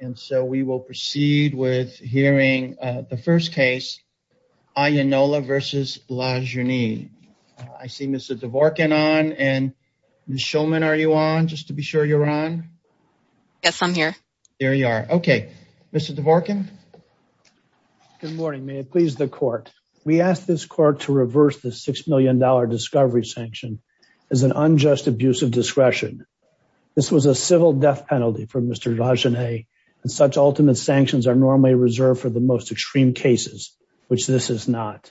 And so we will proceed with hearing the first case, Ayinola v. LaJaunie. I see Mr. Dvorkin on, and Ms. Shulman, are you on, just to be sure you're on? Yes, I'm here. There you are. Okay. Mr. Dvorkin. Good morning. May it please the court. We asked this court to reverse the $6 million discovery sanction as an unjust abuse of discretion. This was a civil death penalty for Mr. LaJaunie, and such ultimate sanctions are normally reserved for the most extreme cases, which this is not.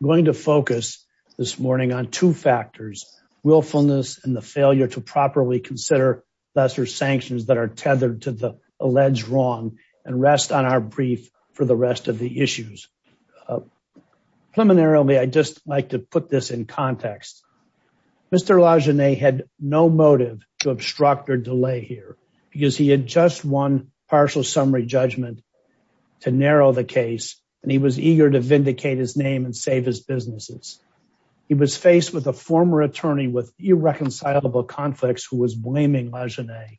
I'm going to focus this morning on two factors, willfulness and the failure to properly consider lesser sanctions that are tethered to the alleged wrong and rest on our brief for the rest of the issues. Preliminarily, I'd just like to put this in context. Mr. LaJaunie had no motive to obstruct or delay here because he had just won partial summary judgment to narrow the case, and he was eager to vindicate his name and save his businesses. He was faced with a former attorney with irreconcilable conflicts who was blaming LaJaunie.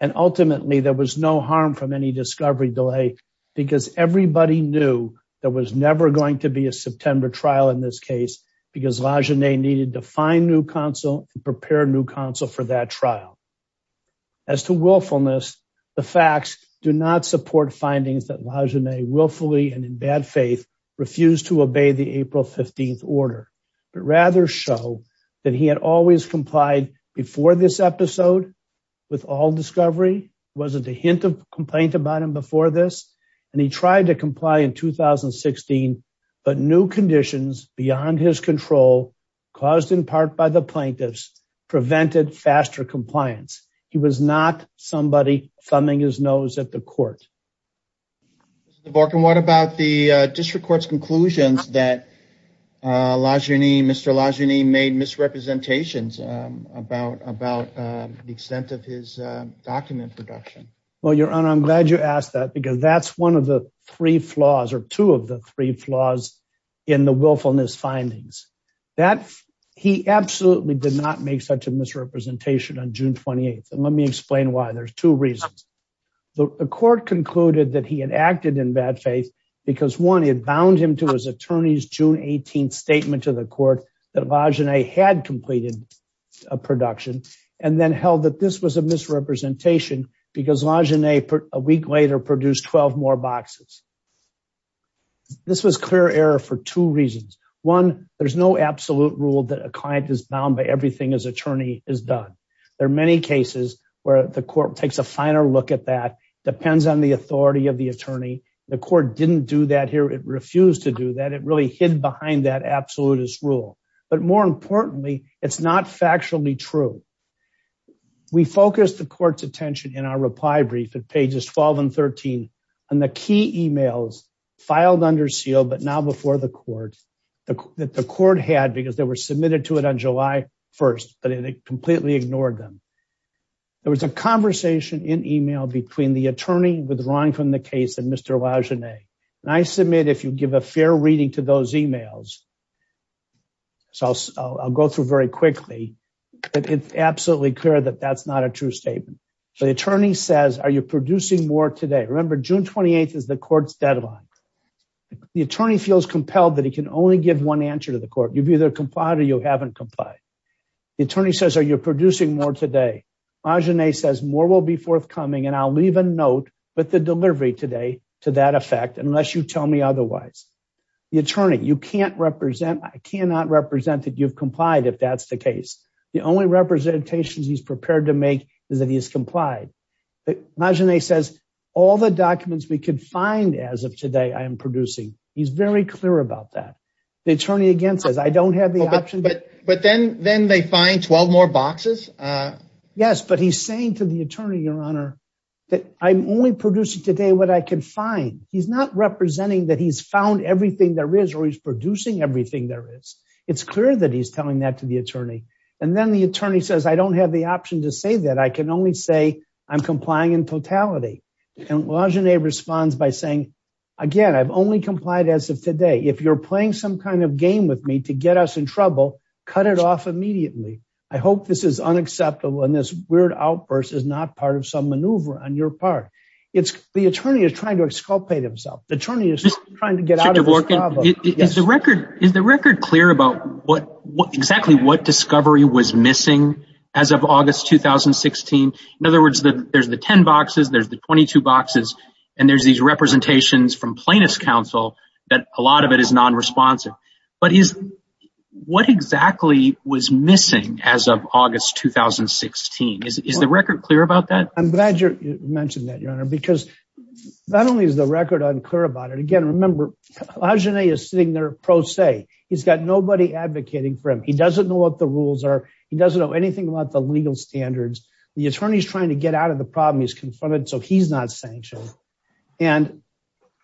And ultimately there was no harm from any discovery delay because everybody knew there was never going to be a September trial in this case because LaJaunie needed to find new counsel and prepare new counsel for that trial. As to willfulness, the facts do not support findings that LaJaunie willfully and in bad faith refused to obey the April 15th order, but rather show that he had always complied before this episode with all discovery, wasn't a hint of complaint about him before this. And he tried to comply in 2016, but new conditions beyond his control caused in part by the plaintiffs prevented faster compliance. He was not somebody thumbing his nose at the court. Mr. Borkin, what about the district court's conclusions that Mr. LaJaunie made misrepresentations about the extent of his document production? Well, your honor, I'm glad you asked that because that's one of the three flaws or two of the three flaws in the willfulness findings that he absolutely did not make such a misrepresentation on June 28th and let me explain why. There's two reasons. The court concluded that he had acted in bad faith because one, it bound him to his attorney's June 18th statement to the court that LaJaunie had completed a misrepresentation because LaJaunie a week later produced 12 more boxes. This was clear error for two reasons. One, there's no absolute rule that a client is bound by everything his attorney has done. There are many cases where the court takes a finer look at that, depends on the authority of the attorney. The court didn't do that here. It refused to do that. It really hid behind that absolutist rule. But more importantly, it's not factually true. We focused the court's attention in our reply brief at pages 12 and 13 on the key emails filed under seal, but now before the court, that the court had because they were submitted to it on July 1st, but it completely ignored them. There was a conversation in email between the attorney withdrawing from the case and Mr. LaJaunie and I submit, if you give a fair reading to those emails, so I'll go through very quickly, but it's absolutely clear that that's not a true statement. So the attorney says, are you producing more today? Remember June 28th is the court's deadline. The attorney feels compelled that he can only give one answer to the court. You've either complied or you haven't complied. The attorney says, are you producing more today? LaJaunie says more will be forthcoming and I'll leave a note with the delivery today to that effect, unless you tell me otherwise. The attorney, you can't represent, I cannot represent that you've complied if that's the case. The only representations he's prepared to make is that he has complied. LaJaunie says all the documents we could find as of today, I am producing. He's very clear about that. The attorney again says, I don't have the option, but then, then they find 12 more boxes. Yes, but he's saying to the attorney, your honor, that I'm only producing today what I can find. He's not representing that he's found everything there is, or he's producing everything there is. It's clear that he's telling that to the attorney. And then the attorney says, I don't have the option to say that. I can only say I'm complying in totality. And LaJaunie responds by saying, again, I've only complied as of today. If you're playing some kind of game with me to get us in trouble, cut it off immediately. I hope this is unacceptable and this weird outburst is not part of some maneuver on your part. It's the attorney is trying to exculpate himself. The attorney is trying to get out of the record. Is the record clear about what exactly what discovery was missing as of August, 2016? In other words, there's the 10 boxes, there's the 22 boxes, and there's these representations from plaintiff's counsel that a lot of it is non-responsive. But is what exactly was missing as of August, 2016? Is the record clear about that? I'm glad you mentioned that, Your Honor, because not only is the record unclear about it. Again, remember, LaJaunie is sitting there pro se, he's got nobody advocating for him. He doesn't know what the rules are. He doesn't know anything about the legal standards. The attorney is trying to get out of the problem he's confronted. So he's not sanctioned. And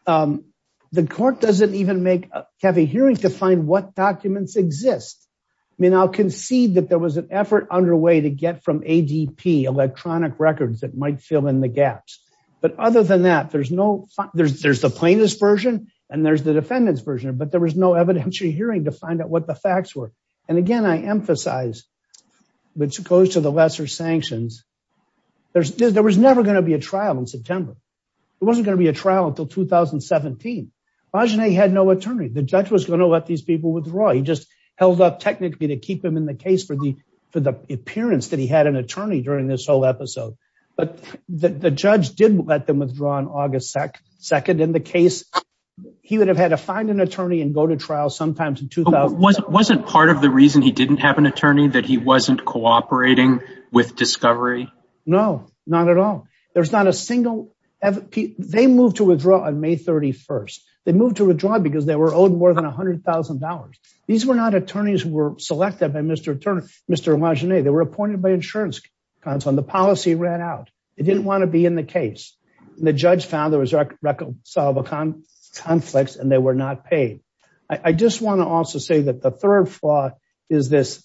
the court doesn't even have a hearing to find what documents exist. I mean, I'll concede that there was an effort underway to get from ADP, electronic records that might fill in the gaps. But other than that, there's the plaintiff's version and there's the defendant's version, but there was no evidentiary hearing to find out what the facts were. And again, I emphasize, which goes to the lesser sanctions, there was never going to be a trial in September. It wasn't going to be a trial until 2017. LaJaunie had no attorney. The judge was going to let these people withdraw. He just held up technically to keep them in the case for the appearance that he had an attorney during this whole episode, but the judge did let them withdraw on August 2nd in the case. He would have had to find an attorney and go to trial sometimes in 2000. Wasn't part of the reason he didn't have an attorney that he wasn't cooperating with discovery? No, not at all. There's not a single, they moved to withdraw on May 31st. They moved to withdraw because they were owed more than a hundred thousand dollars. These were not attorneys who were selected by Mr. Turner, Mr. Appointed by insurance on the policy ran out. It didn't want to be in the case. And the judge found there was reconcilable conflicts and they were not paid. I just want to also say that the third flaw is this,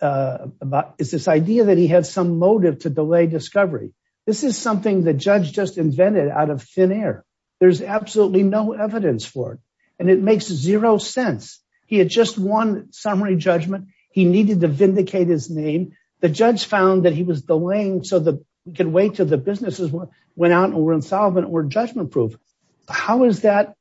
is this idea that he had some motive to delay discovery. This is something that judge just invented out of thin air. There's absolutely no evidence for it. And it makes zero sense. He had just one summary judgment. He needed to vindicate his name. The judge found that he was delaying so that we can wait till the businesses went out and were insolvent or judgment proof. How is that?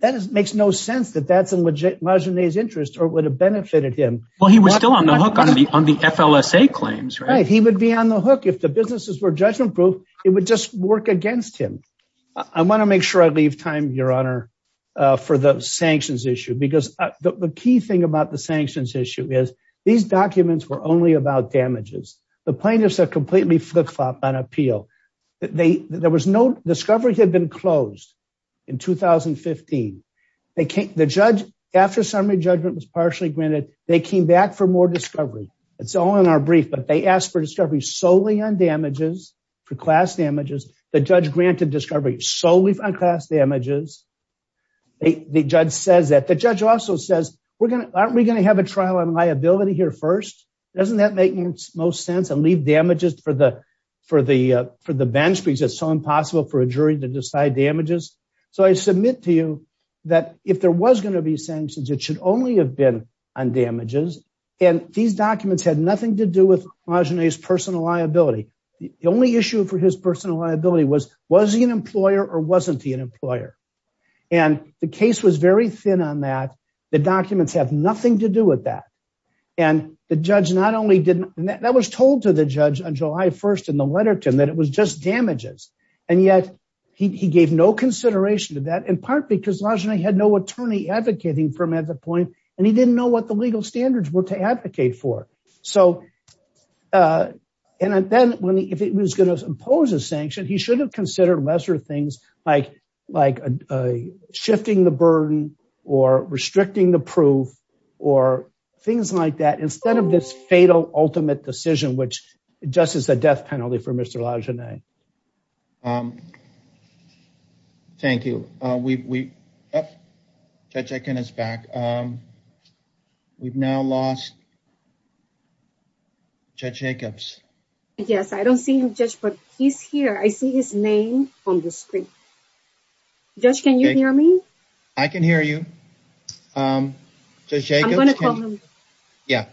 That is, it makes no sense that that's a legit margin of interest or would have benefited him. Well, he was still on the hook on the, on the FLSA claims, right? He would be on the hook. If the businesses were judgment proof, it would just work against him. I want to make sure I leave time, your honor, for the sanctions issue, because the key thing about the sanctions issue is these documents were only about damages. The plaintiffs are completely flip flop on appeal. They, there was no discovery had been closed in 2015. They can't, the judge after summary judgment was partially granted, they came back for more discovery. It's all in our brief, but they asked for discovery solely on damages for class damages. The judge granted discovery solely on class damages. The judge says that the judge also says we're going to, aren't we going to have a trial on liability here first? Doesn't that make most sense and leave damages for the, for the, uh, for the bench because it's so impossible for a jury to decide damages. So I submit to you that if there was going to be sanctions, it should only have been on damages. And these documents had nothing to do with Marjane's personal liability. The only issue for his personal liability was, was he an employer or wasn't he an employer? And the case was very thin on that. The documents have nothing to do with that. And the judge not only didn't, and that was told to the judge on July 1st in the letter to him that it was just damages and yet he gave no consideration to that in part, because Marjane had no attorney advocating for him at the point. And he didn't know what the legal standards were to advocate for. So, uh, and then when he, if it was going to impose a sanction, he should have considered lesser things like, like, uh, shifting the burden or restricting the proof or things like that, instead of this fatal ultimate decision, which just is a death penalty for Mr. Lajanais. Um, thank you. Uh, we, we, uh, Judge Akin is back. Um, we've now lost Judge Jacobs. Yes. I don't see him, Judge, but he's here. I see his name on the screen. Judge, can you hear me? I can hear you. Um, Judge Jacobs. Yeah.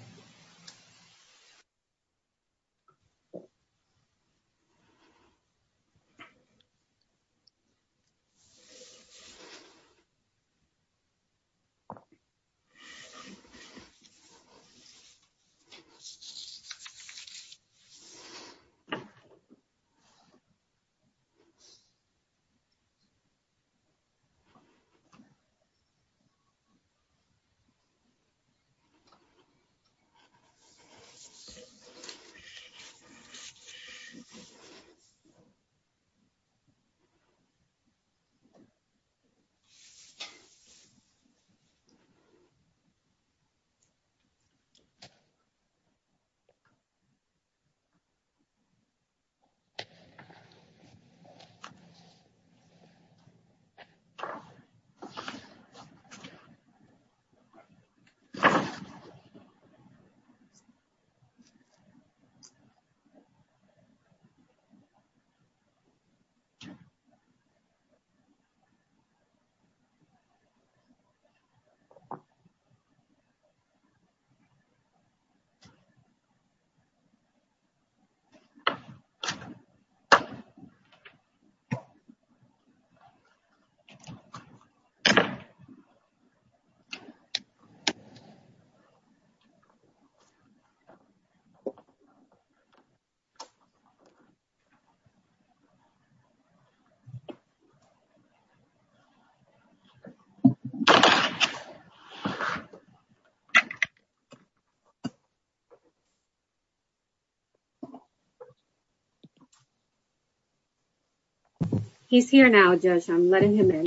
He's here now, Judge. I'm letting him in.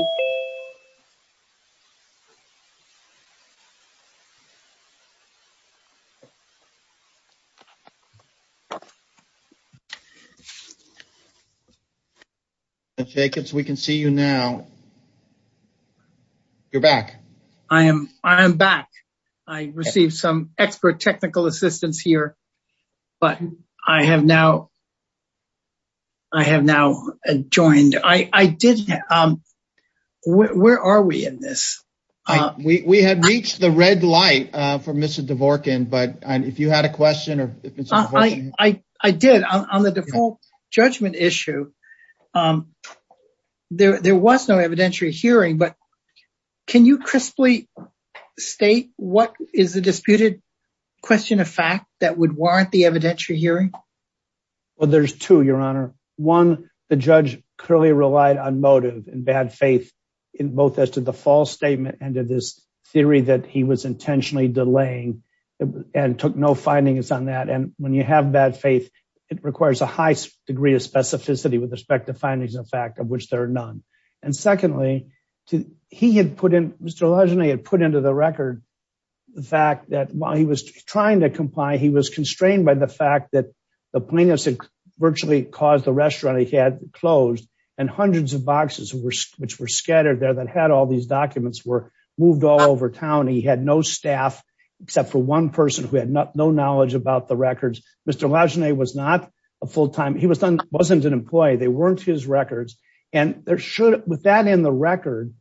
Judge Jacobs, we can see you now. You're back. I am, I am back. I received some expert technical assistance here, but I have now, I have now joined, I, I didn't, um, where, where are we in this? Uh, we, we had reached the red light, uh, for Mr. Dvorkin, but if you had a question or if it's okay. I, I did on the default judgment issue. Um, there, there was no evidentiary hearing, but can you crisply state what is the disputed question of fact that would warrant the evidentiary hearing? Well, there's two, Your Honor. One, the judge clearly relied on motive and bad faith in both as to the false statement and to this theory that he was intentionally delaying and took no findings on that. And when you have bad faith, it requires a high degree of specificity with respect to findings of fact of which there are none. And secondly, he had put in, Mr. Legendary had put into the record. The fact that while he was trying to comply, he was constrained by the fact that the plaintiffs had virtually caused the restaurant he had closed and hundreds of boxes were, which were scattered there that had all these documents were moved all over town. He had no staff except for one person who had no knowledge about the records. Mr. Legendary was not a full-time. He was done, wasn't an employee. They weren't his records. And there should, with that in the record,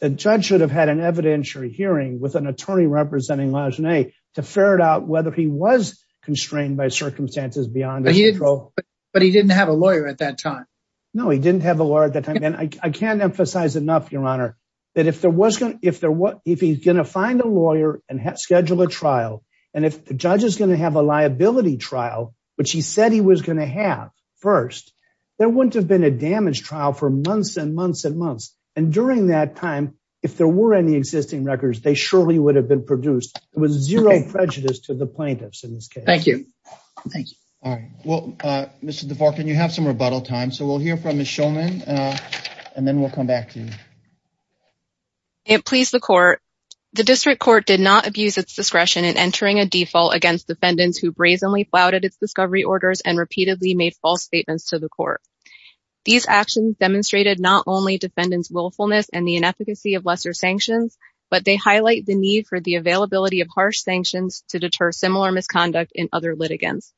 the judge should have had an evidentiary hearing with an attorney representing Legendary to ferret out whether he was constrained by circumstances beyond his control. But he didn't have a lawyer at that time. No, he didn't have a lawyer at that time. And I can't emphasize enough, your honor, that if there was going to, if there was, if he's going to find a lawyer and schedule a trial, and if the judge is going to have a liability trial, which he said he was going to have first, there wouldn't have been a damage trial for months and months and months. And during that time, if there were any existing records, they surely would have been produced. It was zero prejudice to the plaintiffs in this case. Thank you. Thank you. All right. Well, Mr. DeVar, can you have some rebuttal time? So we'll hear from Ms. Schulman and then we'll come back to you. It pleased the court. The district court did not abuse its discretion in entering a default against defendants who brazenly flouted its discovery orders and repeatedly made false statements to the court. These actions demonstrated not only defendants willfulness and the inefficacy of lesser sanctions, but they highlight the need for the availability of harsh sanctions to deter similar misconduct in other litigants.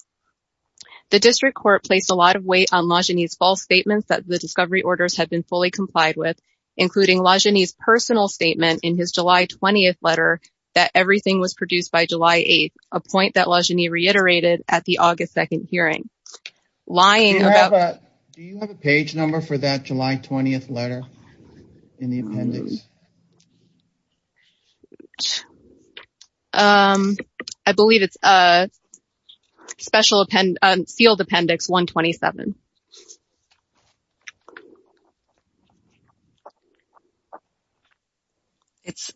The district court placed a lot of weight on Lajeunie's false statements that the discovery orders had been fully complied with, including Lajeunie's personal statement in his July 20th letter that everything was produced by July 8th, a point that Lajeunie reiterated at the August 2nd hearing. Do you have a page number for that July 20th letter in the appendix? Um, I believe it's, uh, special append, uh, sealed appendix 127. It's,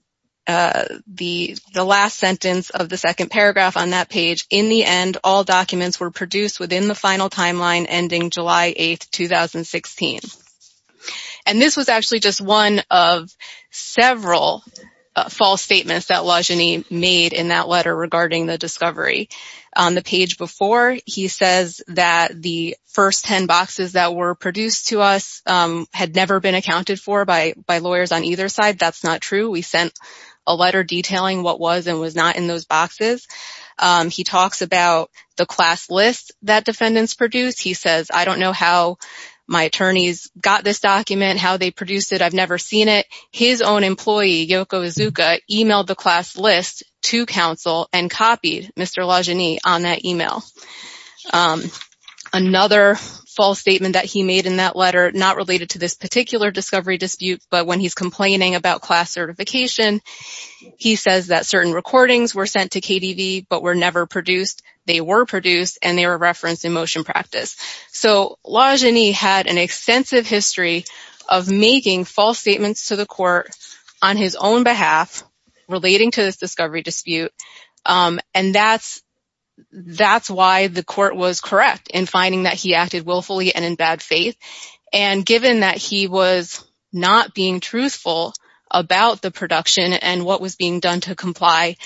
uh, the, the last sentence of the second paragraph on that page. In the end, all documents were produced within the final timeline ending July 8th, 2016. And this was actually just one of several false statements that Lajeunie made in that letter regarding the discovery. On the page before he says that the first 10 boxes that were produced to us, um, had never been accounted for by, by lawyers on either side. That's not true. We sent a letter detailing what was and was not in those boxes. Um, he talks about the class list that defendants produced. He says, I don't know how my attorneys got this document, how they produced it, I've never seen it. His own employee, Yoko Iizuka, emailed the class list to counsel and copied Mr. Lajeunie on that email. Um, another false statement that he made in that letter, not related to this particular discovery dispute, but when he's complaining about class certification, he says that certain recordings were sent to KDV, but were never produced, they were produced, and they were referenced in motion practice. So Lajeunie had an extensive history of making false statements to the court on his own behalf, relating to this discovery dispute. Um, and that's, that's why the court was correct in finding that he acted willfully and in bad faith. And given that he was not being truthful about the production and what was being done to comply,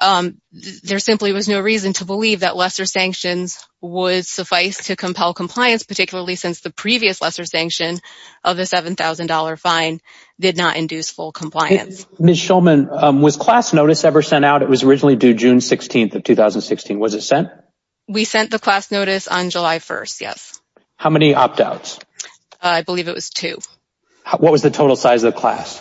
um, there simply was no reason to believe that lesser sanctions would suffice to compel compliance, particularly since the previous lesser sanction of the $7,000 fine did not induce full compliance. Ms. Shulman, um, was class notice ever sent out? It was originally due June 16th of 2016. Was it sent? We sent the class notice on July 1st. Yes. How many opt-outs? I believe it was two. What was the total size of the class?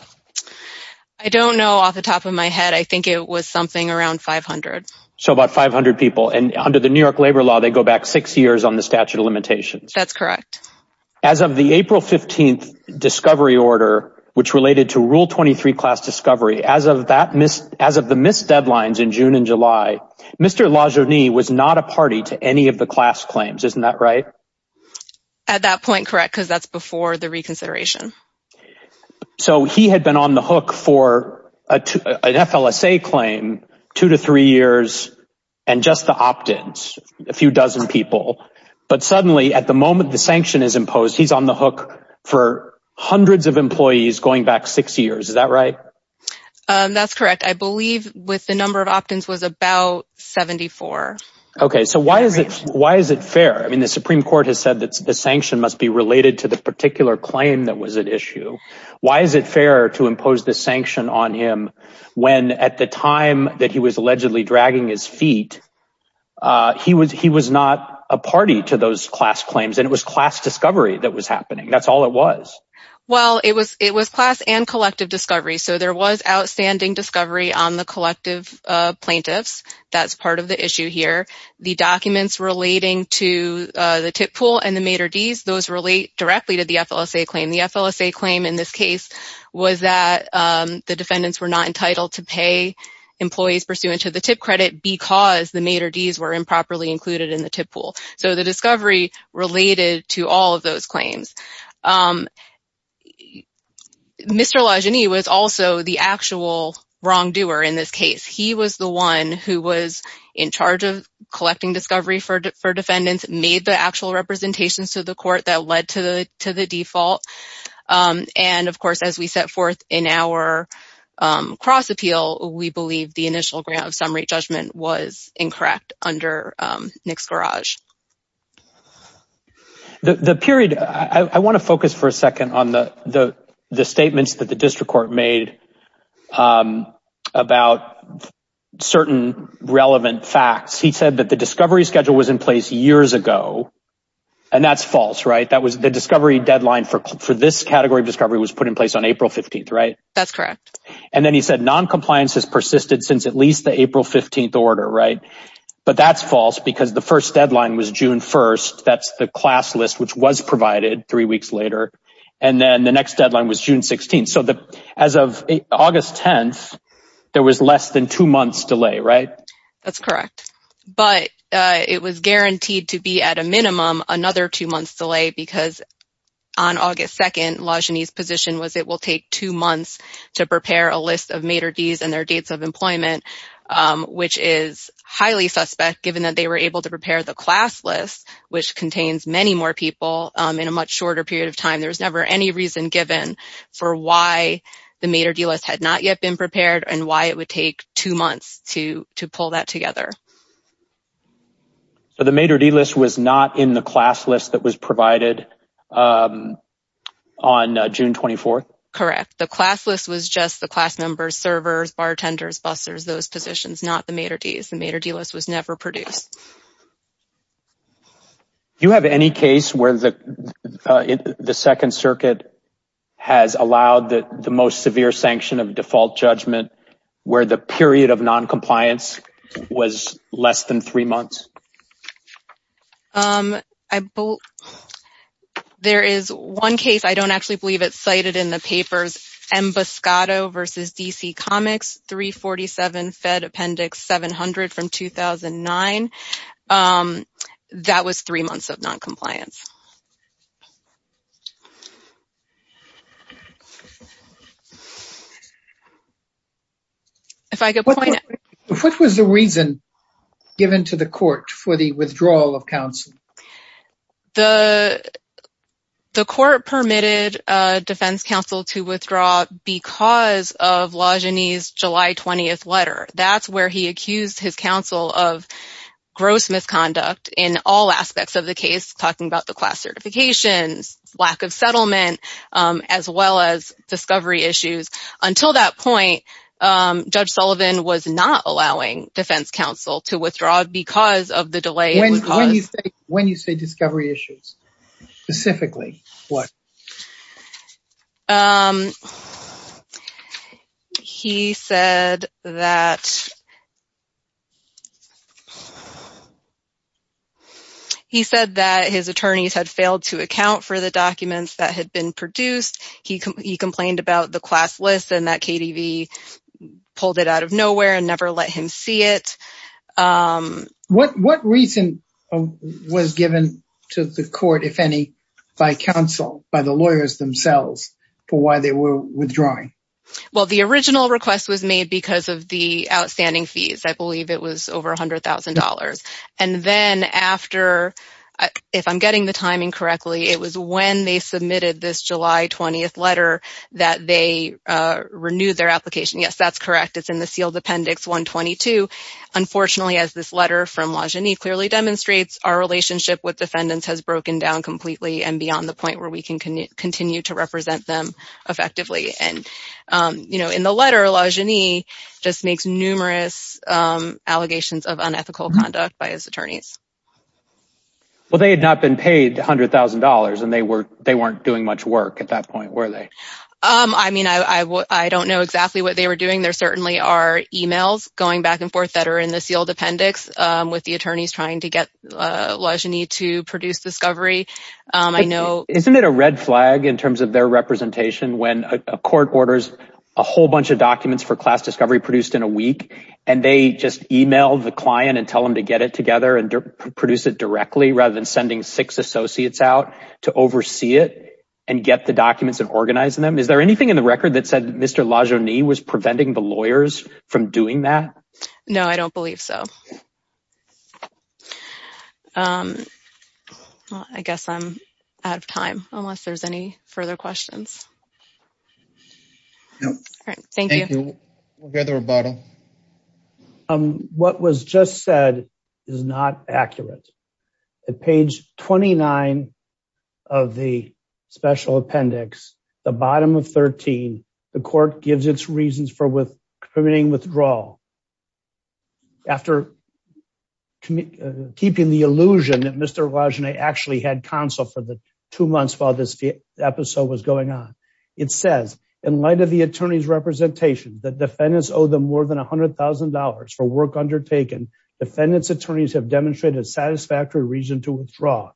I don't know off the top of my head. I think it was something around 500. So about 500 people. And under the New York labor law, they go back six years on the statute of limitations. That's correct. As of the April 15th discovery order, which related to rule 23 class discovery, as of that, as of the missed deadlines in June and July, Mr. Lajeunie was not a party to any of the class claims. Isn't that right? At that point. Correct. Cause that's before the reconsideration. So he had been on the hook for a two, an FLSA claim two to three years. And just the opt-ins a few dozen people, but suddenly at the moment, the sanction is imposed. He's on the hook for hundreds of employees going back six years. Is that right? That's correct. I believe with the number of opt-ins was about 74. Okay. So why is it, why is it fair? I mean, the Supreme court has said that the sanction must be related to the particular claim that was at issue. Why is it fair to impose the sanction on him when at the time that he was allegedly dragging his feet, uh, he was, he was not a party to those class claims and it was class discovery that was happening. That's all it was. Well, it was, it was class and collective discovery. So there was outstanding discovery on the collective, uh, plaintiffs. That's part of the issue here. The documents relating to, uh, the tip pool and the mater DS, those relate directly to the FLSA claim. The FLSA claim in this case was that, um, the defendants were not entitled to pay employees pursuant to the tip credit because the mater DS were improperly included in the tip pool. So the discovery related to all of those claims. Um, Mr. Lajeunie was also the actual wrongdoer in this case. He was the one who was in charge of collecting discovery for, for defendants, made the actual representations to the court that led to the, to the default. Um, and of course, as we set forth in our, um, cross appeal, we believe the initial grant of summary judgment was incorrect under, um, Nick's garage. The period, I want to focus for a second on the, the, the statements that the district court made, um, about certain relevant facts. He said that the discovery schedule was in place years ago. And that's false, right? That was the discovery deadline for, for this category of discovery was put in place on April 15th, right? That's correct. And then he said, non-compliance has persisted since at least the April 15th order, right? But that's false because the first deadline was June 1st. That's the class list, which was provided three weeks later. And then the next deadline was June 16th. So the, as of August 10th, there was less than two months delay, right? That's correct. But, uh, it was guaranteed to be at a minimum, another two months delay because on August 2nd, Lajani's position was it will take two months to prepare a list of Mater Ds and their dates of employment, um, which is highly suspect given that they were able to prepare the class list, which contains many more people, um, in a much shorter period of time, there was never any reason given for why the Mater D list had not yet been prepared and why it would take two months to, to pull that together. So the Mater D list was not in the class list that was provided, um, on June 24th? Correct. The class list was just the class members, servers, bartenders, busters, those positions, not the Mater Ds. The Mater D list was never produced. Do you have any case where the, uh, the second circuit has allowed the most severe sanction of default judgment where the period of non-compliance was less than three months? Um, I, there is one case, I don't actually believe it's cited in the papers, M. Buscato versus DC Comics, 347 Fed Appendix 700 from 2009. Um, that was three months of non-compliance. If I could point out- What was the reason given to the court for the withdrawal of counsel? The, the court permitted, uh, defense counsel to withdraw because of Lajanis' July 20th letter. That's where he accused his counsel of gross misconduct in all aspects of the class certifications, lack of settlement, um, as well as discovery issues. Until that point, um, Judge Sullivan was not allowing defense counsel to withdraw because of the delay- When, when you say, when you say discovery issues, specifically, what? Um, he said that, he said that his attorneys had failed to account for the documents that had been produced. He complained about the class list and that KDV pulled it out of nowhere and never let him see it. Um- What, what reason was given to the court, if any, by counsel, by the lawyers themselves, for why they were withdrawing? Well, the original request was made because of the outstanding fees. I believe it was over $100,000. And then after, if I'm getting the timing correctly, it was when they submitted this July 20th letter that they, uh, renewed their application. Yes, that's correct. It's in the sealed appendix 122. Unfortunately, as this letter from Lajanis clearly demonstrates, our relationship with defendants has broken down completely and beyond the point where we can continue to represent them effectively. And, um, you know, in the letter, Lajanis just makes numerous, um, allegations of unethical conduct by his attorneys. Well, they had not been paid $100,000 and they were, they weren't doing much work at that point, were they? Um, I mean, I, I, I don't know exactly what they were doing. There certainly are emails going back and forth that are in the sealed appendix, um, with the attorneys trying to get, uh, Lajanis to produce discovery. Um, I know- When a court orders a whole bunch of documents for class discovery produced in a week and they just email the client and tell them to get it together and produce it directly rather than sending six associates out to oversee it and get the documents and organize them. Is there anything in the record that said Mr. Lajanis was preventing the lawyers from doing that? No, I don't believe so. Um, well, I guess I'm out of time unless there's any further questions. Nope. All right. Thank you. Thank you. We'll go to the rebuttal. Um, what was just said is not accurate. At page 29 of the special appendix, the bottom of 13, the court gives its reasons for with permitting withdrawal. After keeping the illusion that Mr. Lajanis actually had counsel for the two months while this episode was going on. It says in light of the attorney's representation that defendants owe them more than a hundred thousand dollars for work undertaken. Defendants attorneys have demonstrated satisfactory reason to withdraw.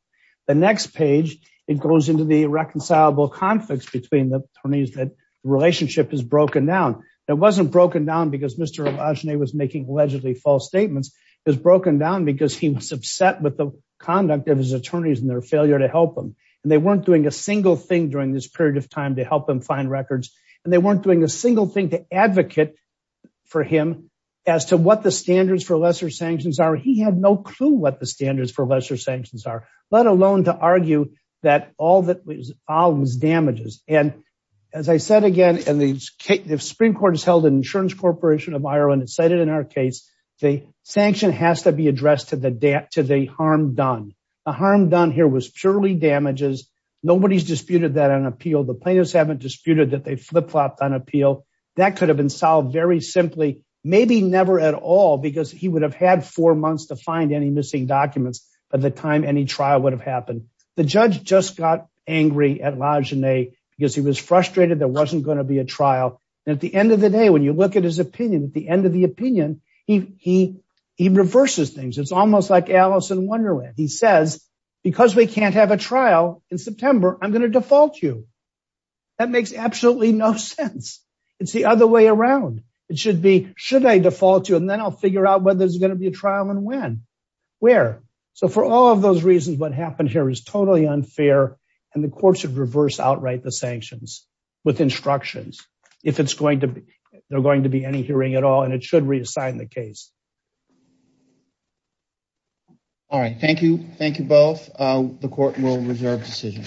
The next page, it goes into the reconcilable conflicts between the attorneys that relationship is broken down. It wasn't broken down because Mr. Lajanis was making allegedly false statements. It was broken down because he was upset with the conduct of his attorneys and their failure to help them. And they weren't doing a single thing during this period of time to help them find records. And they weren't doing a single thing to advocate for him as to what the standards for lesser sanctions are. He had no clue what the standards for lesser sanctions are, let alone to argue that all that was all was damages. And as I said, again, and the Supreme Court has held an insurance corporation of Ireland and cited in our case, the sanction has to be addressed to the debt, to the harm done. The harm done here was purely damages. Nobody's disputed that on appeal. The plaintiffs haven't disputed that they flip-flopped on appeal that could have been solved very simply, maybe never at all, because he would have had four months to find any missing documents by the time any trial would have happened. The judge just got angry at Lajanis because he was frustrated. There wasn't going to be a trial. And at the end of the day, when you look at his opinion, at the end of the opinion, he, he, he reverses things. It's almost like Alice in Wonderland. He says, because we can't have a trial in September, I'm going to default you. That makes absolutely no sense. It's the other way around. It should be, should I default you? And then I'll figure out whether there's going to be a trial and when, where. So for all of those reasons, what happened here is totally unfair and the court should reverse outright the sanctions with instructions, if it's going to be, they're going to be any hearing at all. And it should reassign the case. All right. Thank you. Thank you both. The court will reserve decision.